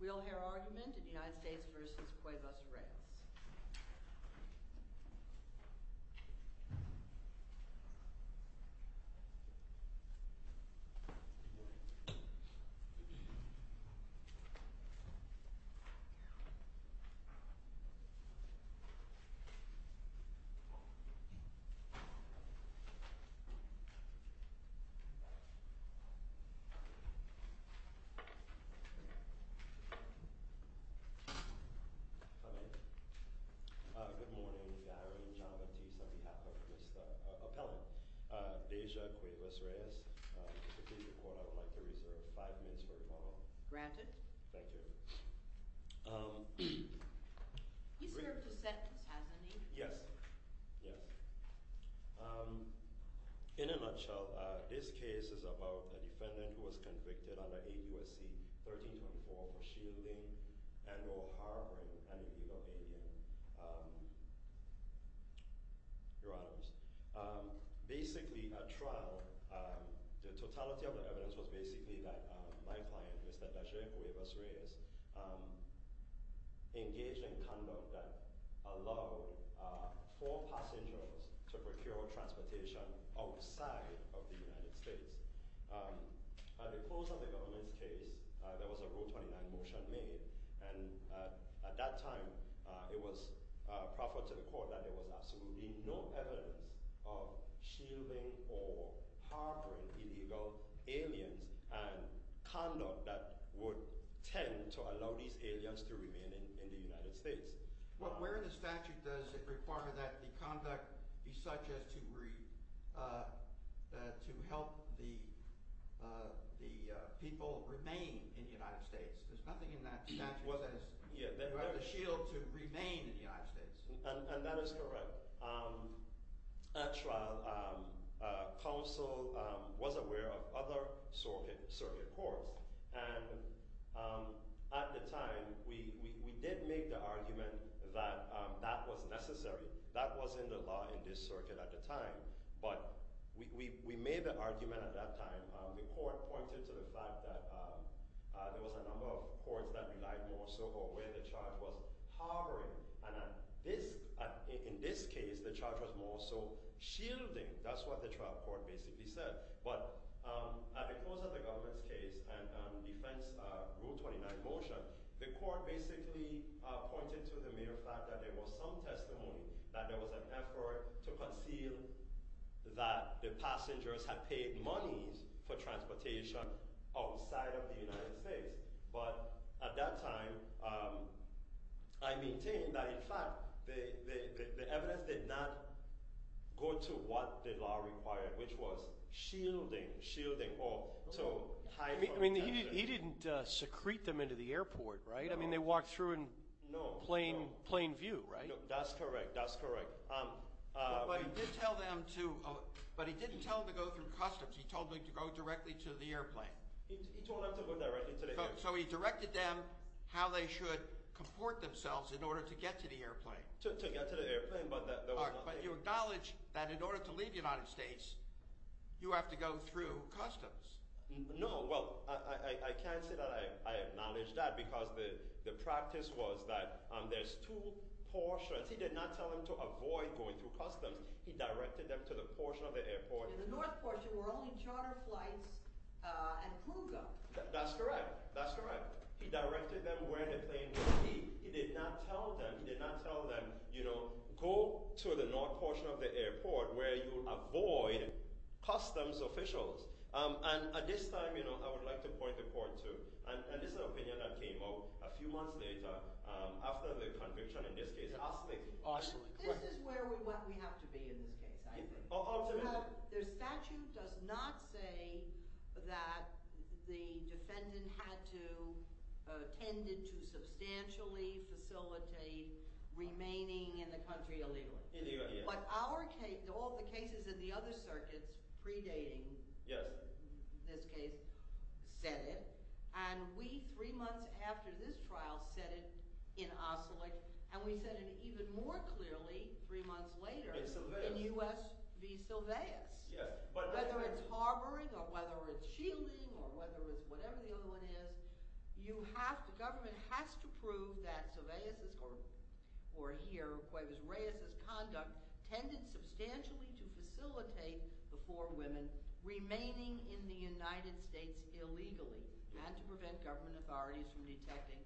We'll hear argument in United States v. Cuevas-Reyes. Good morning, Diary and John Batiste on behalf of Mr. Appellant, Deja Cuevas-Reyes. I would like to reserve five minutes for rebuttal. Granted. Thank you. He's served a sentence, hasn't he? Yes. Yes. In a nutshell, this case is about a defendant who was convicted under AUSC 1324 for shielding and or harboring an illegal alien. Your Honors, basically at trial, the totality of the evidence was basically that my client, Mr. Deja Cuevas-Reyes, engaged in conduct that allowed four passengers to procure transportation outside of the United States. At the close of the government's case, there was a Rule 29 motion made, and at that time it was proffered to the court that there was absolutely no evidence of shielding or harboring illegal aliens and conduct that would tend to allow these aliens to remain in the United States. Where in the statute does it require that the conduct be such as to help the people remain in the United States? There's nothing in that statute that says you have to shield to remain in the United States. And that is correct. At trial, counsel was aware of other circuit courts, and at the time, we did make the argument that that was necessary. That was in the law in this circuit at the time, but we made the argument at that time. The court pointed to the fact that there was a number of courts that relied more so on where the charge was harboring, and in this case, the charge was more so shielding. That's what the trial court basically said. But at the close of the government's case and defense Rule 29 motion, the court basically pointed to the mere fact that there was some testimony that there was an effort to conceal that the passengers had paid money for transportation outside of the United States. But at that time, I maintain that, in fact, the evidence did not go to what the law required, which was shielding or to hide from attention. He didn't secrete them into the airport, right? They walked through in plain view, right? That's correct. That's correct. But he didn't tell them to go through customs. He told them to go directly to the airplane. He told them to go directly to the airplane. So he directed them how they should comport themselves in order to get to the airplane. But you acknowledge that in order to leave the United States, you have to go through customs. No. Well, I can't say that I acknowledge that because the practice was that there's two portions. He did not tell them to avoid going through customs. He directed them to the portion of the airport. In the north portion were only charter flights and plugup. That's correct. That's correct. He directed them where the plane would be. He did not tell them. He did not tell them, you know, go to the north portion of the airport where you avoid customs officials. And at this time, you know, I would like to point the court to, and this is an opinion that came up a few months later after the conviction in this case. This is where we have to be in this case, I think. The statute does not say that the defendant had to – tended to substantially facilitate remaining in the country illegally. But our case – all the cases in the other circuits predating this case said it, and we three months after this trial said it in Ossolick, and we said it even more clearly three months later in U.S. v. Sylvaeus. Whether it's harboring or whether it's shielding or whether it's whatever the other one is, you have to – the government has to prove that Sylvaeus' or here Cuevas-Reyes' conduct tended substantially to facilitate the four women remaining in the United States illegally and to prevent government authorities from detecting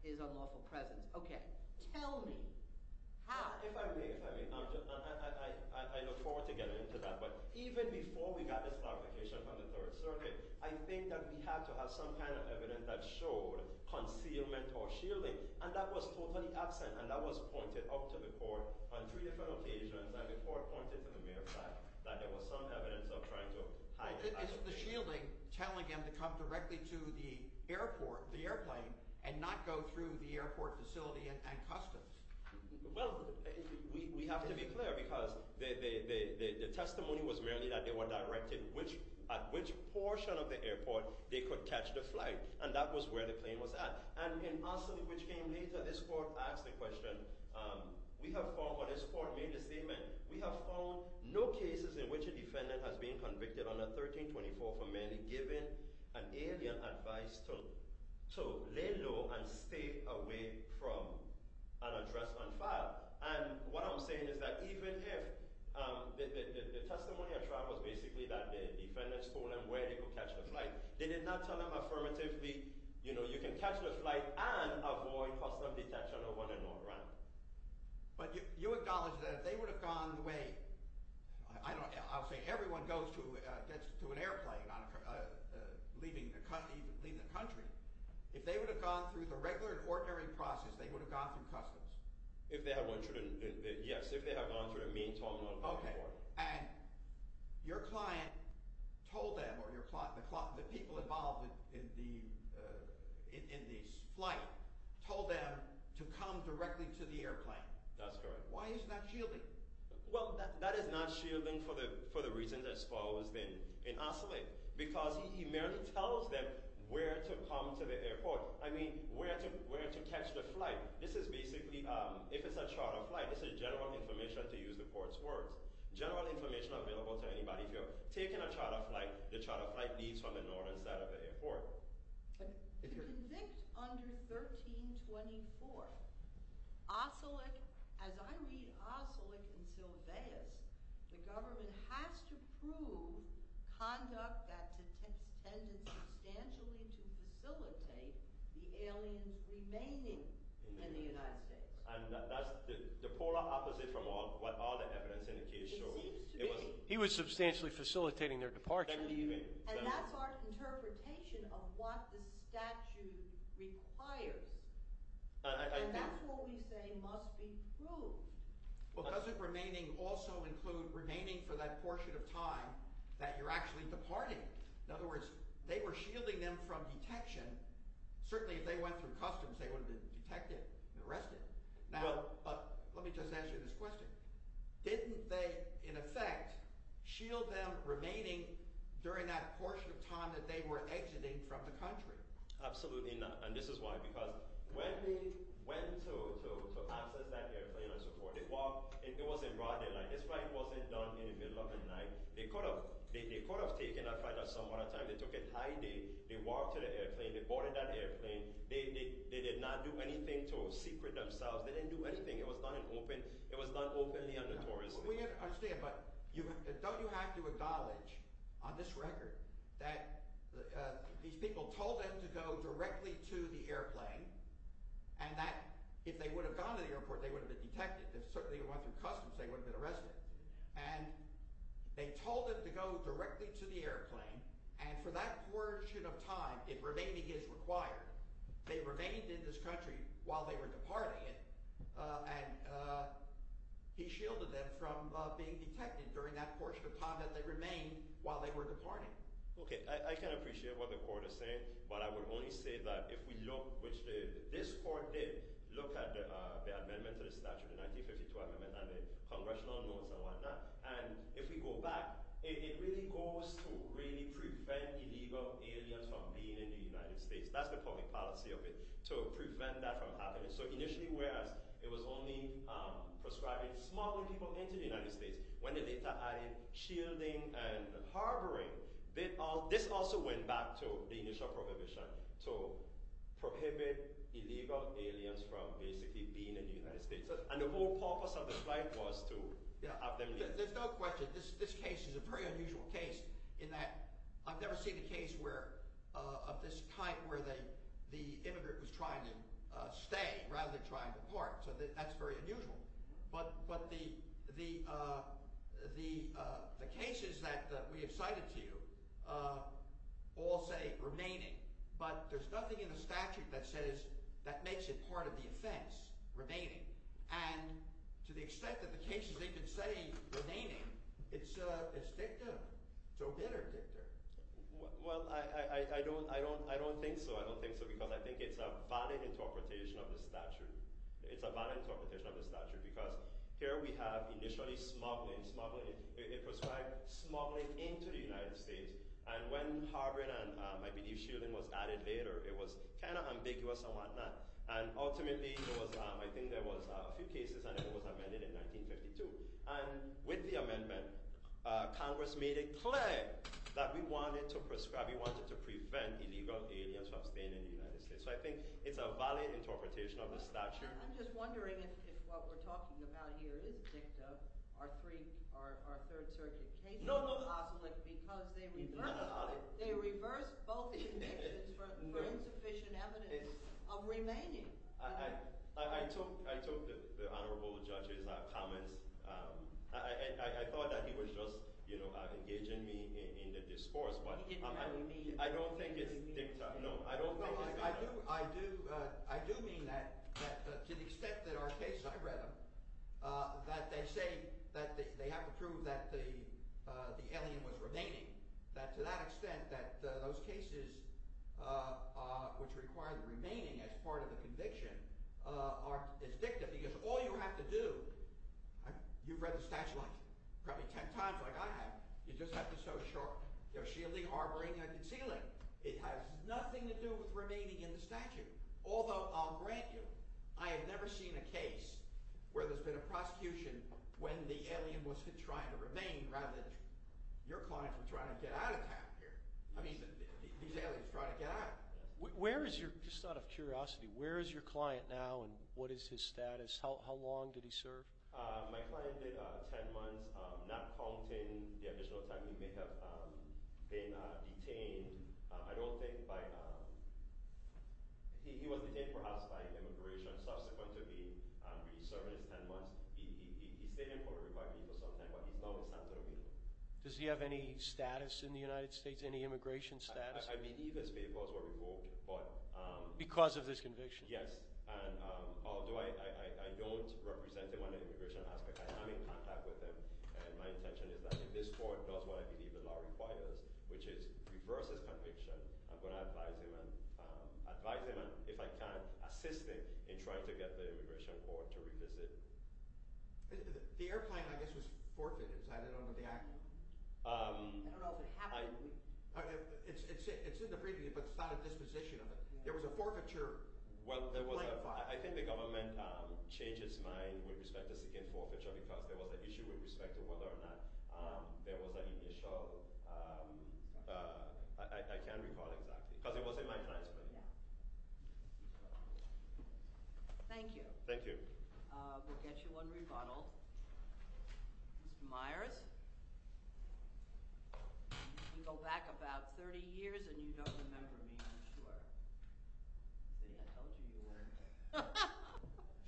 his unlawful presence. Okay. Tell me how. If I may, if I may, I look forward to getting into that. But even before we got this clarification from the Third Circuit, I think that we have to have some kind of evidence that showed concealment or shielding, and that was totally absent, and that was pointed up to the court on three different occasions, and the court pointed to the mere fact that there was some evidence of trying to hide it. Is the shielding telling him to come directly to the airport, the airplane, and not go through the airport facility and customs? Well, we have to be clear because the testimony was merely that they were directed at which portion of the airport they could catch the flight, and that was where the plane was at. And in Arsene, which came later, this court asked the question – we have found, or this court made the statement, we have found no cases in which a defendant has been convicted under 1324 for merely giving an alien advice to lay low and stay away from an address on file. And what I'm saying is that even if – the testimony I tried was basically that the defendants told him where they could catch the flight. They did not tell him affirmatively, you know, you can catch the flight and avoid custom detention or want to not run. But you acknowledge that if they would have gone the way – I'll say everyone goes to – gets to an airplane, leaving the country. If they would have gone through the regular and ordinary process, they would have gone through customs. Yes, if they have gone through the main terminal. Okay. And your client told them, or the people involved in the flight told them to come directly to the airplane. That's correct. Why is that shielding? Well, that is not shielding for the reasons exposed in Oselic, because he merely tells them where to come to the airport. I mean, where to catch the flight. This is basically – if it's a charter flight, this is general information, to use the court's words. General information available to anybody. If you're taking a charter flight, the charter flight leaves from the northern side of the airport. To convict under 1324, Oselic – as I read Oselic and Sylvaeus, the government has to prove conduct that tends substantially to facilitate the aliens remaining in the United States. And that's the polar opposite from what all the evidence indicates. He was substantially facilitating their departure. And that's our interpretation of what the statute requires. And that's what we say must be proved. Well, doesn't remaining also include remaining for that portion of time that you're actually departing? In other words, they were shielding them from detection. Certainly, if they went through customs, they would have been detected and arrested. Now, let me just ask you this question. Didn't they, in effect, shield them remaining during that portion of time that they were exiting from the country? Absolutely not, and this is why, because when they went to access that airplane and so forth, they walked – it wasn't broad daylight. This flight wasn't done in the middle of the night. They could have taken that flight at some other time. They took it high day. They walked to the airplane. They boarded that airplane. They did not do anything to secret themselves. They didn't do anything. It was done in open – it was done openly and notoriously. We understand, but don't you have to acknowledge on this record that these people told them to go directly to the airplane and that if they would have gone to the airport, they would have been detected? If certainly they went through customs, they would have been arrested. And they told them to go directly to the airplane, and for that portion of time, if remaining is required, they remained in this country while they were departing it. And he shielded them from being detected during that portion of time that they remained while they were departing. Okay, I can appreciate what the court is saying, but I would only say that if we look, which this court did, look at the amendment to the statute, the 1952 amendment and the congressional notes and whatnot, and if we go back, it really goes to really prevent illegal aliens from being in the United States. That's the public policy of it, to prevent that from happening. So initially, whereas it was only prescribing smaller people into the United States, when they later added shielding and harboring, this also went back to the initial prohibition to prohibit illegal aliens from basically being in the United States. And the whole purpose of the flight was to have them leave. There's no question. This case is a very unusual case in that I've never seen a case where – of this kind where the immigrant was trying to stay rather than trying to part, so that's very unusual. But the cases that we have cited to you all say remaining, but there's nothing in the statute that says – that makes it part of the offense, remaining. And to the extent that the cases they could say remaining, it's dictum. It's a bitter dictum. Well, I don't think so. I don't think so because I think it's a valid interpretation of the statute. It's a valid interpretation of the statute because here we have initially smuggling, smuggling. It prescribed smuggling into the United States, and when harboring and, I believe, shielding was added later, it was kind of ambiguous and whatnot. And ultimately, there was – I think there was a few cases and it was amended in 1952. And with the amendment, Congress made it clear that we wanted to prescribe – we wanted to prevent illegal aliens from staying in the United States. So I think it's a valid interpretation of the statute. I'm just wondering if what we're talking about here is dictum. Are three – are third-surgeon cases – No, no. – because they reverse – He's not an ally. They reverse both convictions for insufficient evidence of remaining. I took the honorable judge's comments. I thought that he was just engaging me in the discourse, but I don't think it's dictum. No, I don't think it's dictum. I do mean that to the extent that our case – I read them – that they say that they have to prove that the alien was remaining, that to that extent that those cases which require the remaining as part of the conviction are – it's dictum because all you have to do – you've read the statute probably ten times like I have. You just have to show shielding, harboring, and concealing. It has nothing to do with remaining in the statute, although I'll grant you I have never seen a case where there's been a prosecution when the alien was trying to remain rather than your client was trying to get out of town here. I mean these aliens are trying to get out. Where is your – just out of curiosity – where is your client now, and what is his status? How long did he serve? My client did ten months, not counting the additional time he may have been detained. I don't think by – he was detained perhaps by immigration. Subsequently, he served his ten months. He stayed in Puerto Rico for some time, but he's now in Santo Domingo. Does he have any status in the United States, any immigration status? I believe his papers were revoked, but – Because of this conviction? Yes, and although I don't represent him on the immigration aspect, I am in contact with him, and my intention is that if this court does what I believe the law requires, which is reverse his conviction, I'm going to advise him and, if I can, assist him in trying to get the immigration court to revisit. The airplane, I guess, was forfeited. I don't know if the act – I don't know if it happened. It's in the briefing, but it's not a disposition of it. There was a forfeiture. I think the government changed its mind with respect to seeking forfeiture because there was an issue with respect to whether or not there was an initial – I can't recall exactly because it was in my client's briefing. Thank you. Thank you. We'll get you one rebuttal. Mr. Myers, you go back about 30 years and you don't remember me, I'm sure. See, I told you you wouldn't.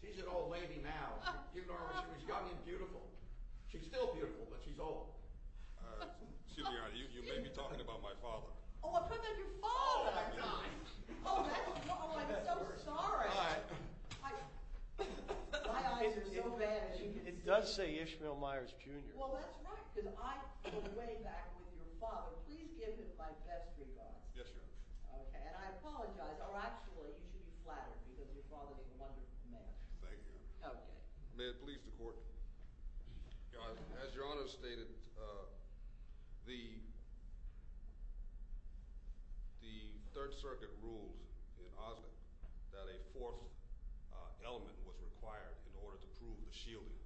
She's an old lady now. You know, she was young and beautiful. She's still beautiful, but she's old. Excuse me, Your Honor, you made me talk about my father. Oh, I'm talking about your father! Oh, I'm so sorry. My eyes are so bad. It does say Ishmael Myers, Jr. Well, that's right, because I go way back with your father. Please give him my best regards. Yes, Your Honor. And I apologize. Oh, actually, you should be flattered because your father didn't wonder who the man was. Thank you, Your Honor. May it please the Court. As Your Honor stated, the Third Circuit ruled in Osgoode that a fourth element was required in order to prove the shielding.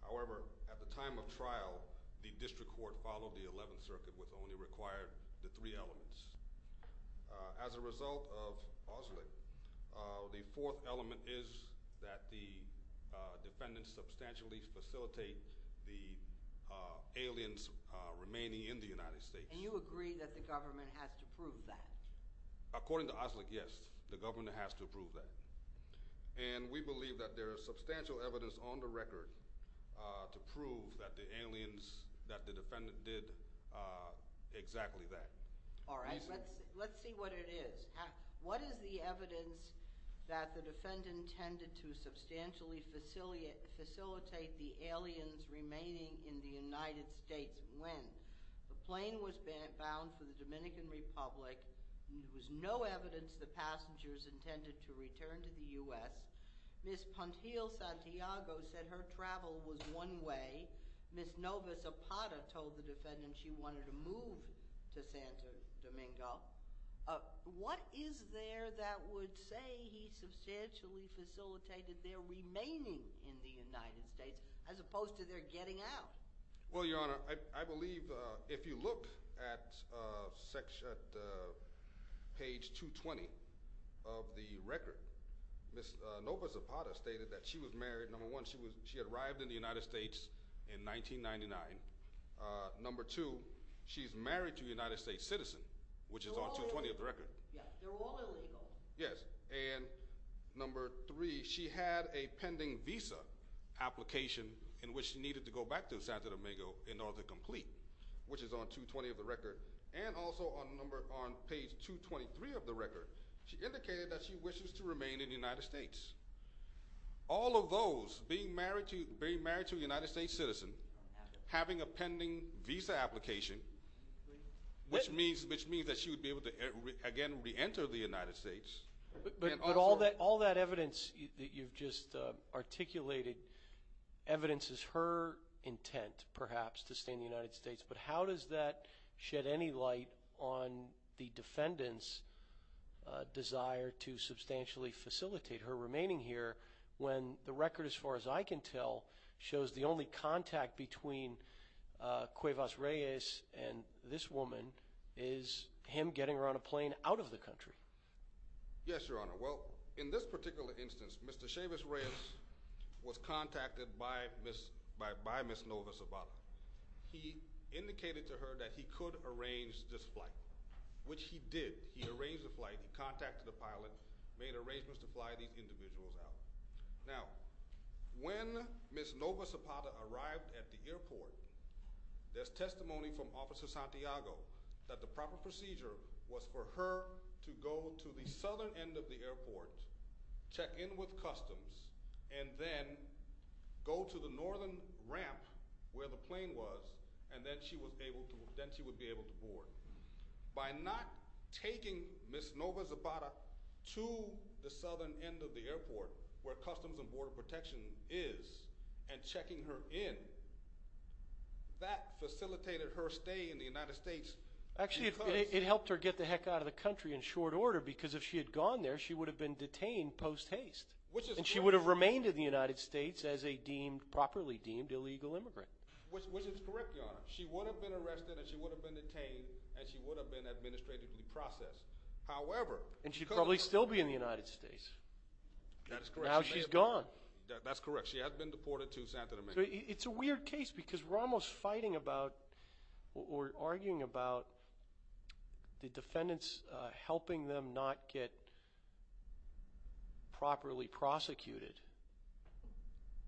However, at the time of trial, the District Court followed the Eleventh Circuit, which only required the three elements. As a result of Oslick, the fourth element is that the defendants substantially facilitate the aliens remaining in the United States. And you agree that the government has to prove that? According to Oslick, yes, the government has to prove that. And we believe that there is substantial evidence on the record to prove that the defendant did exactly that. All right, let's see what it is. What is the evidence that the defendant intended to substantially facilitate the aliens remaining in the United States when the plane was bound for the Dominican Republic and there was no evidence that passengers intended to return to the U.S.? Ms. Pantil-Santiago said her travel was one way. Ms. Novas-Apata told the defendant she wanted to move to Santo Domingo. What is there that would say he substantially facilitated their remaining in the United States as opposed to their getting out? Well, Your Honor, I believe if you look at page 220 of the record, Ms. Novas-Apata stated that she was married. Number one, she arrived in the United States in 1999. Number two, she's married to a United States citizen, which is on 220 of the record. They're all illegal. Yes, and number three, she had a pending visa application in which she needed to go back to Santo Domingo in order to complete, which is on 220 of the record, and also on page 223 of the record, she indicated that she wishes to remain in the United States. All of those, being married to a United States citizen, having a pending visa application, which means that she would be able to, again, reenter the United States. But all that evidence that you've just articulated, evidence is her intent, perhaps, to stay in the United States, but how does that shed any light on the defendant's desire to substantially facilitate her remaining here when the record, as far as I can tell, shows the only contact between Cuevas-Reyes and this woman is him getting her on a plane out of the country? Yes, Your Honor. Well, in this particular instance, Mr. Chavez-Reyes was contacted by Ms. Novas-Apata. He indicated to her that he could arrange this flight, which he did. He arranged the flight. He contacted the pilot, made arrangements to fly these individuals out. Now, when Ms. Novas-Apata arrived at the airport, there's testimony from Officer Santiago that the proper procedure was for her to go to the southern end of the airport, check in with customs, and then go to the northern ramp where the plane was, and then she would be able to board. By not taking Ms. Novas-Apata to the southern end of the airport, where Customs and Border Protection is, and checking her in, that facilitated her stay in the United States. Actually, it helped her get the heck out of the country in short order, because if she had gone there, she would have been detained post-haste. And she would have remained in the United States as a properly deemed illegal immigrant. Which is correct, Your Honor. She would have been arrested, and she would have been detained, and she would have been administratively processed. However... And she'd probably still be in the United States. That is correct. Now she's gone. That's correct. She has been deported to Santo Domingo. It's a weird case, because we're almost fighting about, or arguing about, the defendants helping them not get properly prosecuted.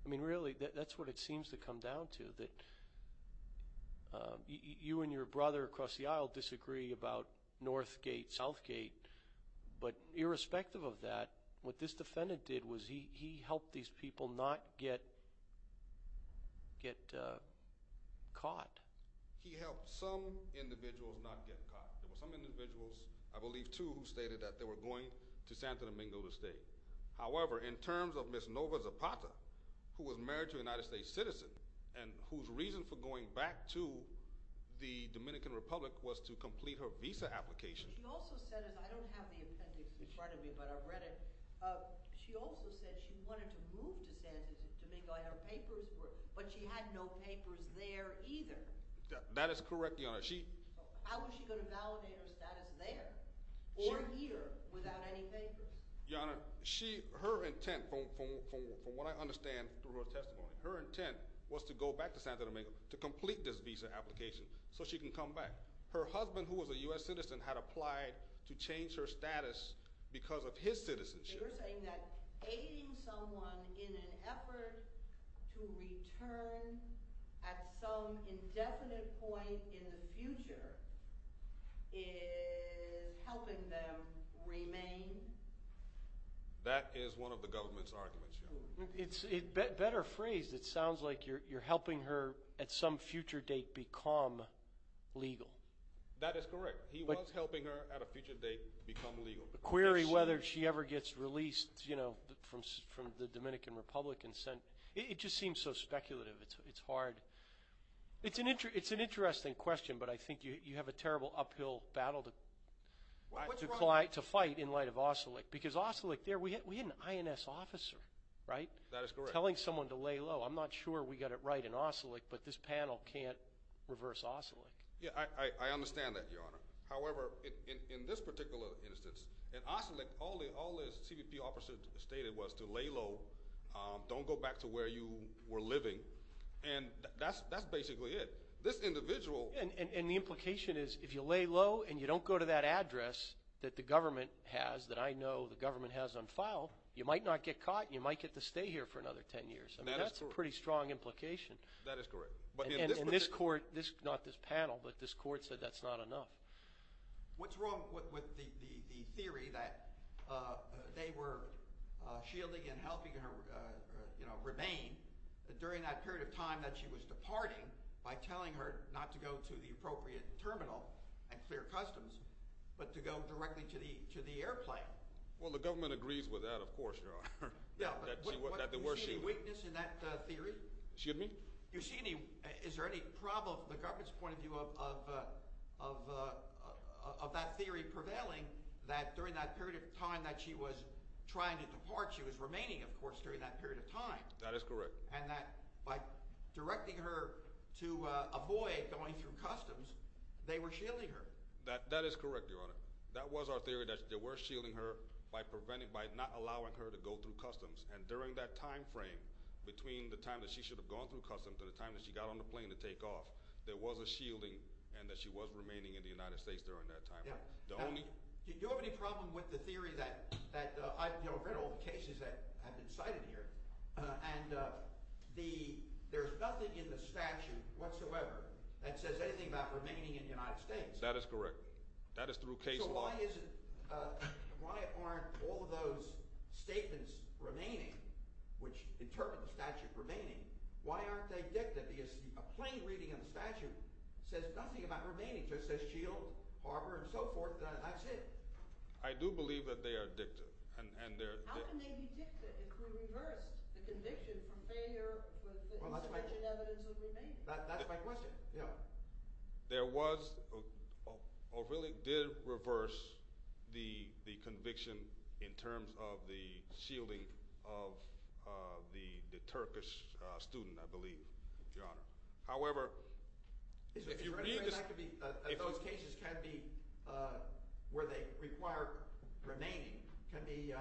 I mean, really, that's what it seems to come down to. You and your brother across the aisle disagree about Northgate, Southgate, but irrespective of that, what this defendant did was he helped these people not get caught. He helped some individuals not get caught. There were some individuals, I believe two, who stated that they were going to Santo Domingo to stay. However, in terms of Ms. Nova Zapata, who was married to a United States citizen, and whose reason for going back to the Dominican Republic was to complete her visa application... She also said, I don't have the appendix in front of me, but I've read it. She also said she wanted to move to Santo Domingo, and her papers were... But she had no papers there either. That is correct, Your Honor. How was she going to validate her status there, or here, without any papers? Your Honor, her intent, from what I understand through her testimony, her intent was to go back to Santo Domingo to complete this visa application so she can come back. Her husband, who was a U.S. citizen, had applied to change her status because of his citizenship. So you're saying that aiding someone in an effort to return at some indefinite point in the future is helping them remain? That is one of the government's arguments, Your Honor. Better phrased, it sounds like you're helping her at some future date become legal. That is correct. He was helping her at a future date become legal. The query whether she ever gets released from the Dominican Republic... It just seems so speculative. It's hard. It's an interesting question, but I think you have a terrible uphill battle to fight in light of OSCILIC. Because OSCILIC, we had an INS officer, right? That is correct. Telling someone to lay low. I'm not sure we got it right in OSCILIC, but this panel can't reverse OSCILIC. I understand that, Your Honor. However, in this particular instance, in OSCILIC, all the CBP officers stated was to lay low, don't go back to where you were living. That's basically it. This individual... And the implication is if you lay low and you don't go to that address that the government has, that I know the government has on file, you might not get caught, and you might get to stay here for another ten years. That's a pretty strong implication. That is correct. And this court, not this panel, but this court said that's not enough. What's wrong with the theory that they were shielding and helping her remain during that period of time that she was departing by telling her not to go to the appropriate terminal at Clear Customs, but to go directly to the airplane? Well, the government agrees with that, of course, Your Honor. Yeah, but do you see any weakness in that theory? Excuse me? Is there any problem from the government's point of view of that theory prevailing that during that period of time that she was trying to depart, she was remaining, of course, during that period of time? And that by directing her to avoid going through Customs, they were shielding her? That is correct, Your Honor. That was our theory, that they were shielding her by preventing, by not allowing her to go through Customs, and during that time frame, between the time that she should have gone through Customs and the time that she got on the plane to take off, there was a shielding and that she was remaining in the United States during that time. Do you have any problem with the theory that, you know, I've read all the cases that have been cited here, and there's nothing in the statute whatsoever that says anything about remaining in the United States? That is correct. That is through case law. So why aren't all of those statements remaining, which interpret the statute as remaining, why aren't they dicta? Because a plain reading of the statute says nothing about remaining. It just says shield, harbor, and so forth, and that's it. I do believe that they are dicta. How can they be dicta if we reversed the conviction from failure with insufficient evidence of remaining? That's my question. There was, or really did reverse the conviction in terms of the shielding of the Turkish student, I believe, Your Honor. However, if you read the… Can be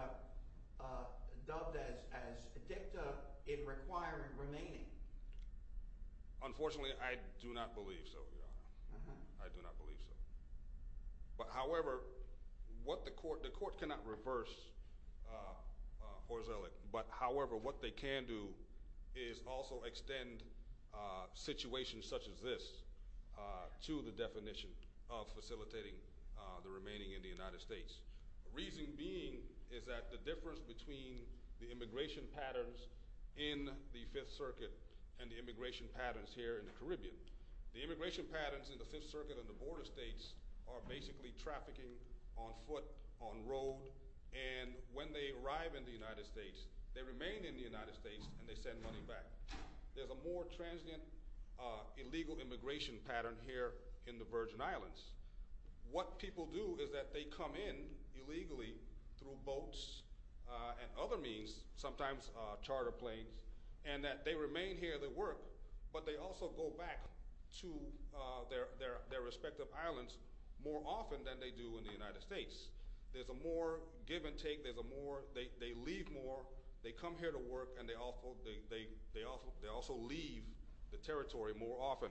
dubbed as dicta in requiring remaining. Unfortunately, I do not believe so, Your Honor. I do not believe so. But however, what the court, the court cannot reverse Horzelik, but however, what they can do is also extend situations such as this to the definition of facilitating the remaining in the United States. Reason being is that the difference between the immigration patterns in the Fifth Circuit and the immigration patterns here in the Caribbean. The immigration patterns in the Fifth Circuit and the border states are basically trafficking on foot, on road, and when they arrive in the United States, they remain in the United States, and they send money back. There's a more transient illegal immigration pattern here in the Virgin Islands. What people do is that they come in illegally through boats and other means, sometimes charter planes, and that they remain here, they work, but they also go back to their respective islands more often than they do in the United States. There's a more give and take. There's a more, they leave more. They come here to work, and they also leave the territory more often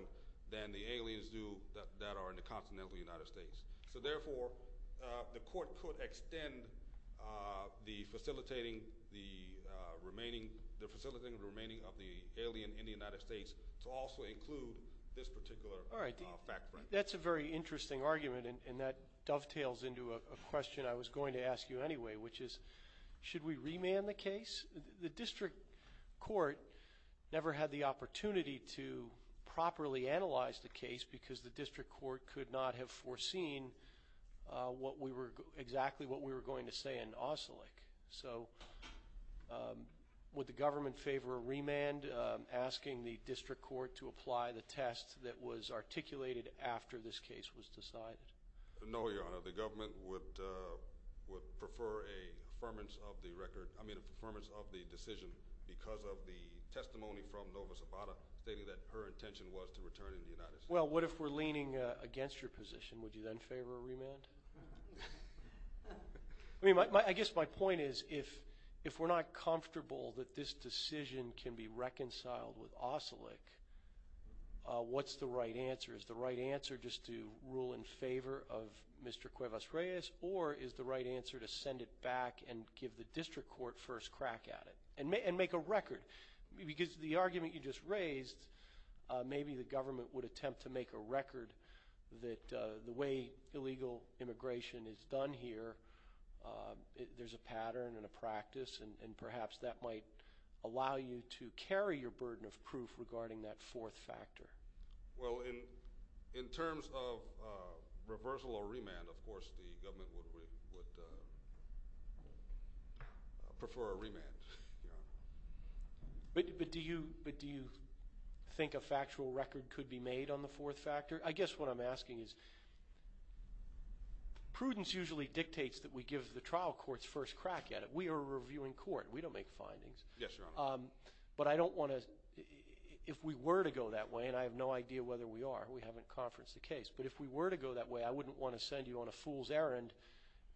than the aliens do that are in the continental United States. So therefore, the court could extend the facilitating the remaining, the facilitating the remaining of the alien in the United States to also include this particular fact frame. That's a very interesting argument, and that dovetails into a question I was going to ask you anyway, which is should we remand the case? The district court never had the opportunity to properly analyze the case because the district court could not have foreseen what we were, exactly what we were going to say in Ossolick. So would the government favor a remand, asking the district court to apply the test that was articulated after this case was decided? No, Your Honor. The government would prefer a firmness of the record, I mean, a firmness of the decision because of the testimony from Nova Zabata stating that her intention was to return in the United States. Well, what if we're leaning against your position? Would you then favor a remand? I mean, I guess my point is if we're not comfortable that this decision can be reconciled with Ossolick, what's the right answer? Is the right answer just to rule in favor of Mr. Cuevas-Reyes or is the right answer to send it back and give the district court first crack at it and make a record? Because the argument you just raised, maybe the government would attempt to make a record that the way illegal immigration is done here, there's a pattern and a practice and perhaps that might allow you to carry your burden of proof regarding that fourth factor. Well, in terms of reversal or remand, of course the government would prefer a remand, Your Honor. But do you think a factual record could be made on the fourth factor? I guess what I'm asking is prudence usually dictates that we give the trial courts first crack at it. We are a reviewing court. We don't make findings. Yes, Your Honor. But I don't want to, if we were to go that way and I have no idea whether we are, we haven't conferenced a case. But if we were to go that way, I wouldn't want to send you on a fool's errand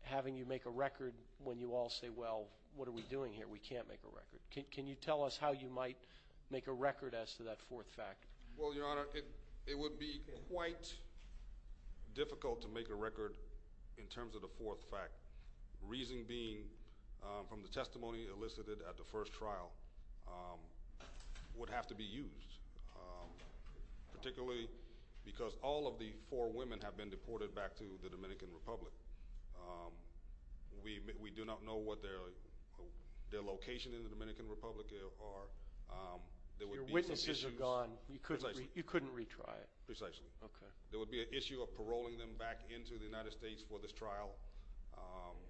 having you make a record when you all say, well, what are we doing here? We can't make a record. Can you tell us how you might make a record as to that fourth factor? Well, Your Honor, it would be quite difficult to make a record in terms of the fourth factor. Reason being from the testimony elicited at the first trial would have to be used. Particularly because all of the four women have been deported back to the Dominican Republic. We do not know what their location in the Dominican Republic are. Your witnesses are gone. You couldn't retry it. Precisely. There would be an issue of paroling them back into the United States for this trial.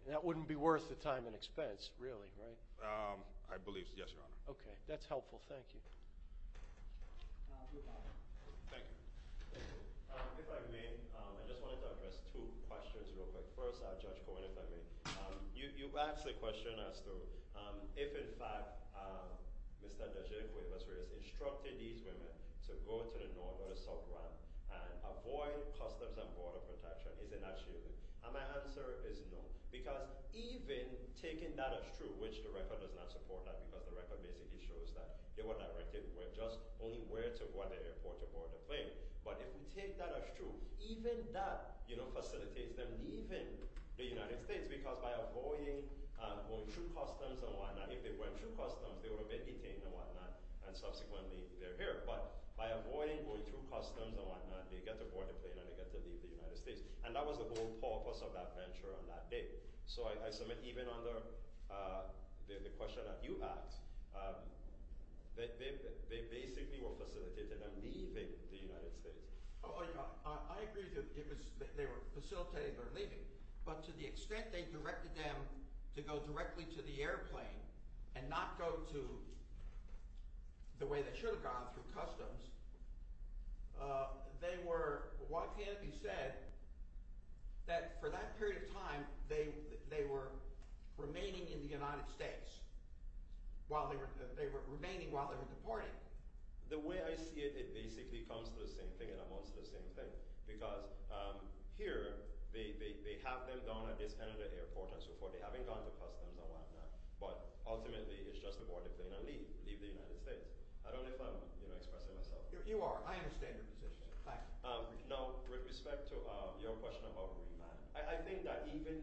That wouldn't be worth the time and expense, really, right? I believe so, yes, Your Honor. Okay, that's helpful. Thank you. Your Honor. Thank you. If I may, I just wanted to address two questions real quick. First, Judge Cohen, if I may. You asked the question as to if, in fact, Mr. DeGioia, who was raised, instructed these women to go to the north or the sub-ramp and avoid Customs and Border Protection, is it not shielding? And my answer is no. Because even taking that as true, which the record does not support that because the record basically shows that they were directed just only where to go at the airport to board the plane. But if we take that as true, even that facilitates them leaving the United States because by avoiding going through Customs and whatnot, if they went through Customs, they would have been detained and whatnot, and subsequently they're here. But by avoiding going through Customs and whatnot, they get to board the plane and they get to leave the United States. And that was the whole purpose of that venture on that day. So I submit even under the question that you asked, they basically were facilitated on leaving the United States. I agree that they were facilitated on leaving. But to the extent they directed them to go directly to the airplane and not go to the way they should have gone, through Customs, they were, what can be said, that for that period of time, they were remaining in the United States. They were remaining while they were deported. The way I see it, it basically comes to the same thing and amounts to the same thing because here they have them down at this end of the airport and so forth. They haven't gone to Customs and whatnot, but ultimately it's just to board the plane and leave the United States. I don't know if I'm expressing myself. You are. I understand your position. Now with respect to your question about remand, I think that even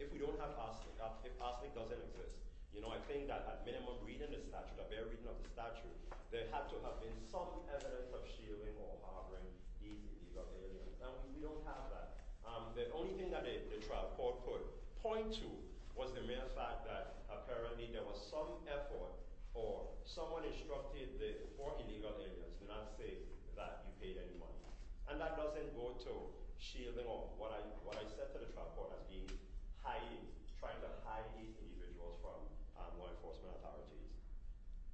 if we don't have ASNIC, if ASNIC doesn't exist, I think that at minimum reading the statute, the very reading of the statute, there had to have been some evidence of shielding or harboring these illegal aliens. Now we don't have that. The only thing that the trial court could point to was the mere fact that apparently there was some effort or someone instructed the four illegal aliens to not say that you paid any money. And that doesn't go to shielding or what I said to the trial court as being trying to hide these individuals from law enforcement authorities.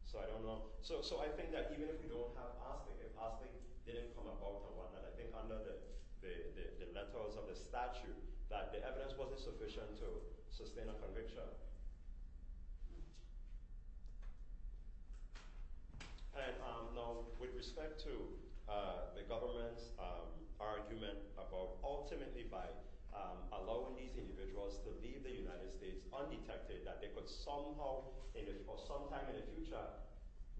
So I don't know. So I think that even if we don't have ASNIC, if ASNIC didn't come about and whatnot, I think under the letters of the statute that the evidence wasn't sufficient to sustain a conviction. And now with respect to the government's argument about ultimately by allowing these individuals to leave the United States undetected, that they could somehow or sometime in the future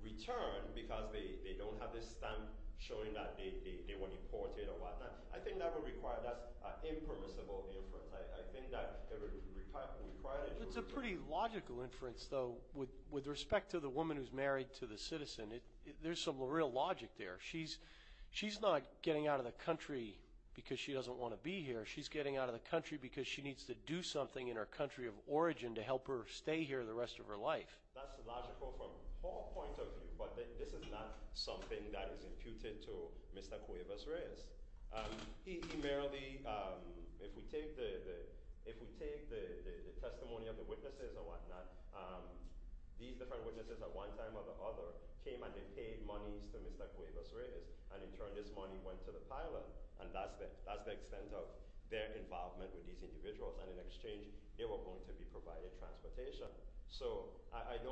return because they don't have this stamp showing that they were imported or whatnot, I think that would require, that's an impermissible inference. I think that it would require... It's a pretty logical inference though with respect to the woman who's married to the citizen. There's some real logic there. She's not getting out of the country because she doesn't want to be here. She's getting out of the country because she needs to do something in her country of origin to help her stay here the rest of her life. That's logical from Paul's point of view, but this is not something that is imputed to Mr. Cuevas-Reyes. He merely... If we take the testimony of the witnesses or whatnot, these different witnesses at one time or the other came and they paid monies to Mr. Cuevas-Reyes and in turn this money went to the pilot. And that's the extent of their involvement with these individuals. And in exchange, they were going to be provided transportation.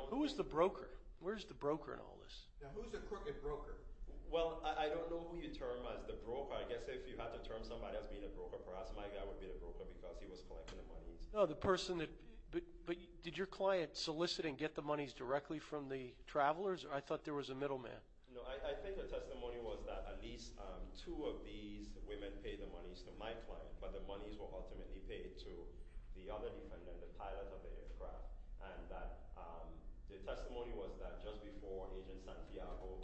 Who was the broker? Where's the broker in all this? Who's the crooked broker? Well, I don't know who you term as the broker. I guess if you had to term somebody as being a broker, perhaps my guy would be the broker because he was collecting the monies. But did your client solicit and get the monies directly from the travelers or was that at least two of these women paid the monies to my client but the monies were ultimately paid to the other defendant, the pilot of the aircraft. And the testimony was that just before Agent Santiago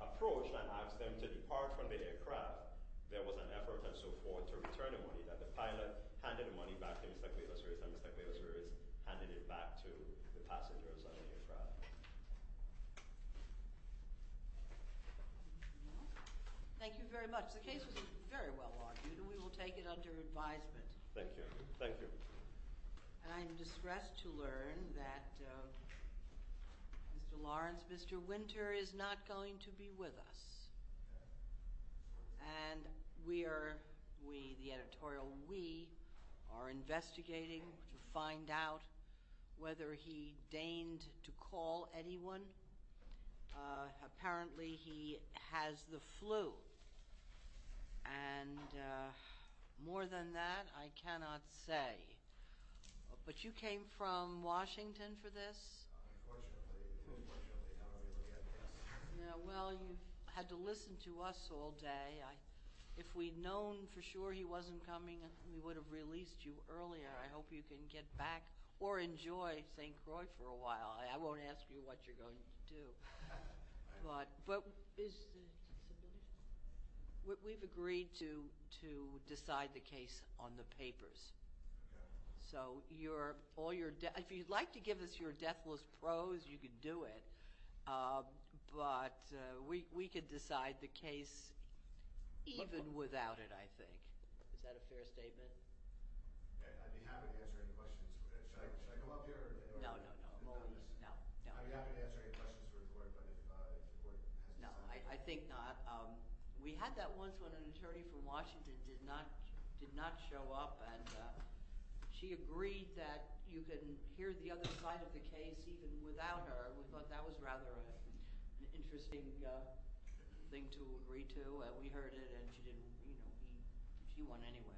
approached and asked them to depart from the aircraft, there was an effort and so forth to return the money that the pilot handed the money back to Mr. Cuevas-Reyes and Mr. Cuevas-Reyes handed it back to the passengers of the aircraft. Thank you very much. The case was very well argued and we will take it under advisement. Thank you. And I'm distressed to learn that Mr. Lawrence, Mr. Winter, is not going to be with us. And we are, the editorial we, are investigating to find out whether he deigned to call anyone. Apparently, he has the flu. And more than that, I cannot say. But you came from Washington for this? Unfortunately. Unfortunately, I don't really get this. Well, you had to listen to us all day. If we'd known for sure he wasn't coming, we would have released you earlier. I hope you can get back or enjoy St. Croix for a while. I don't know what to do. But, we've agreed to decide the case on the papers. So, if you'd like to give us your deathless prose, you can do it. But we could decide the case even without it, I think. Is that a fair statement? I'd be happy to answer any questions. Should I go up here? No, no, no. I'd be happy to answer any questions for the court. No, I think not. We had that once when an attorney from Washington did not show up. She agreed that you could hear the other side of the case even without her. We thought that was rather an interesting thing to agree to. We heard it, and she won anyway.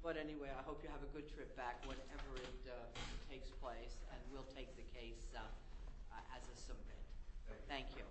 But anyway, I hope you have a good trip back wherever it takes place, and we'll take the case as it's submitted. Thank you.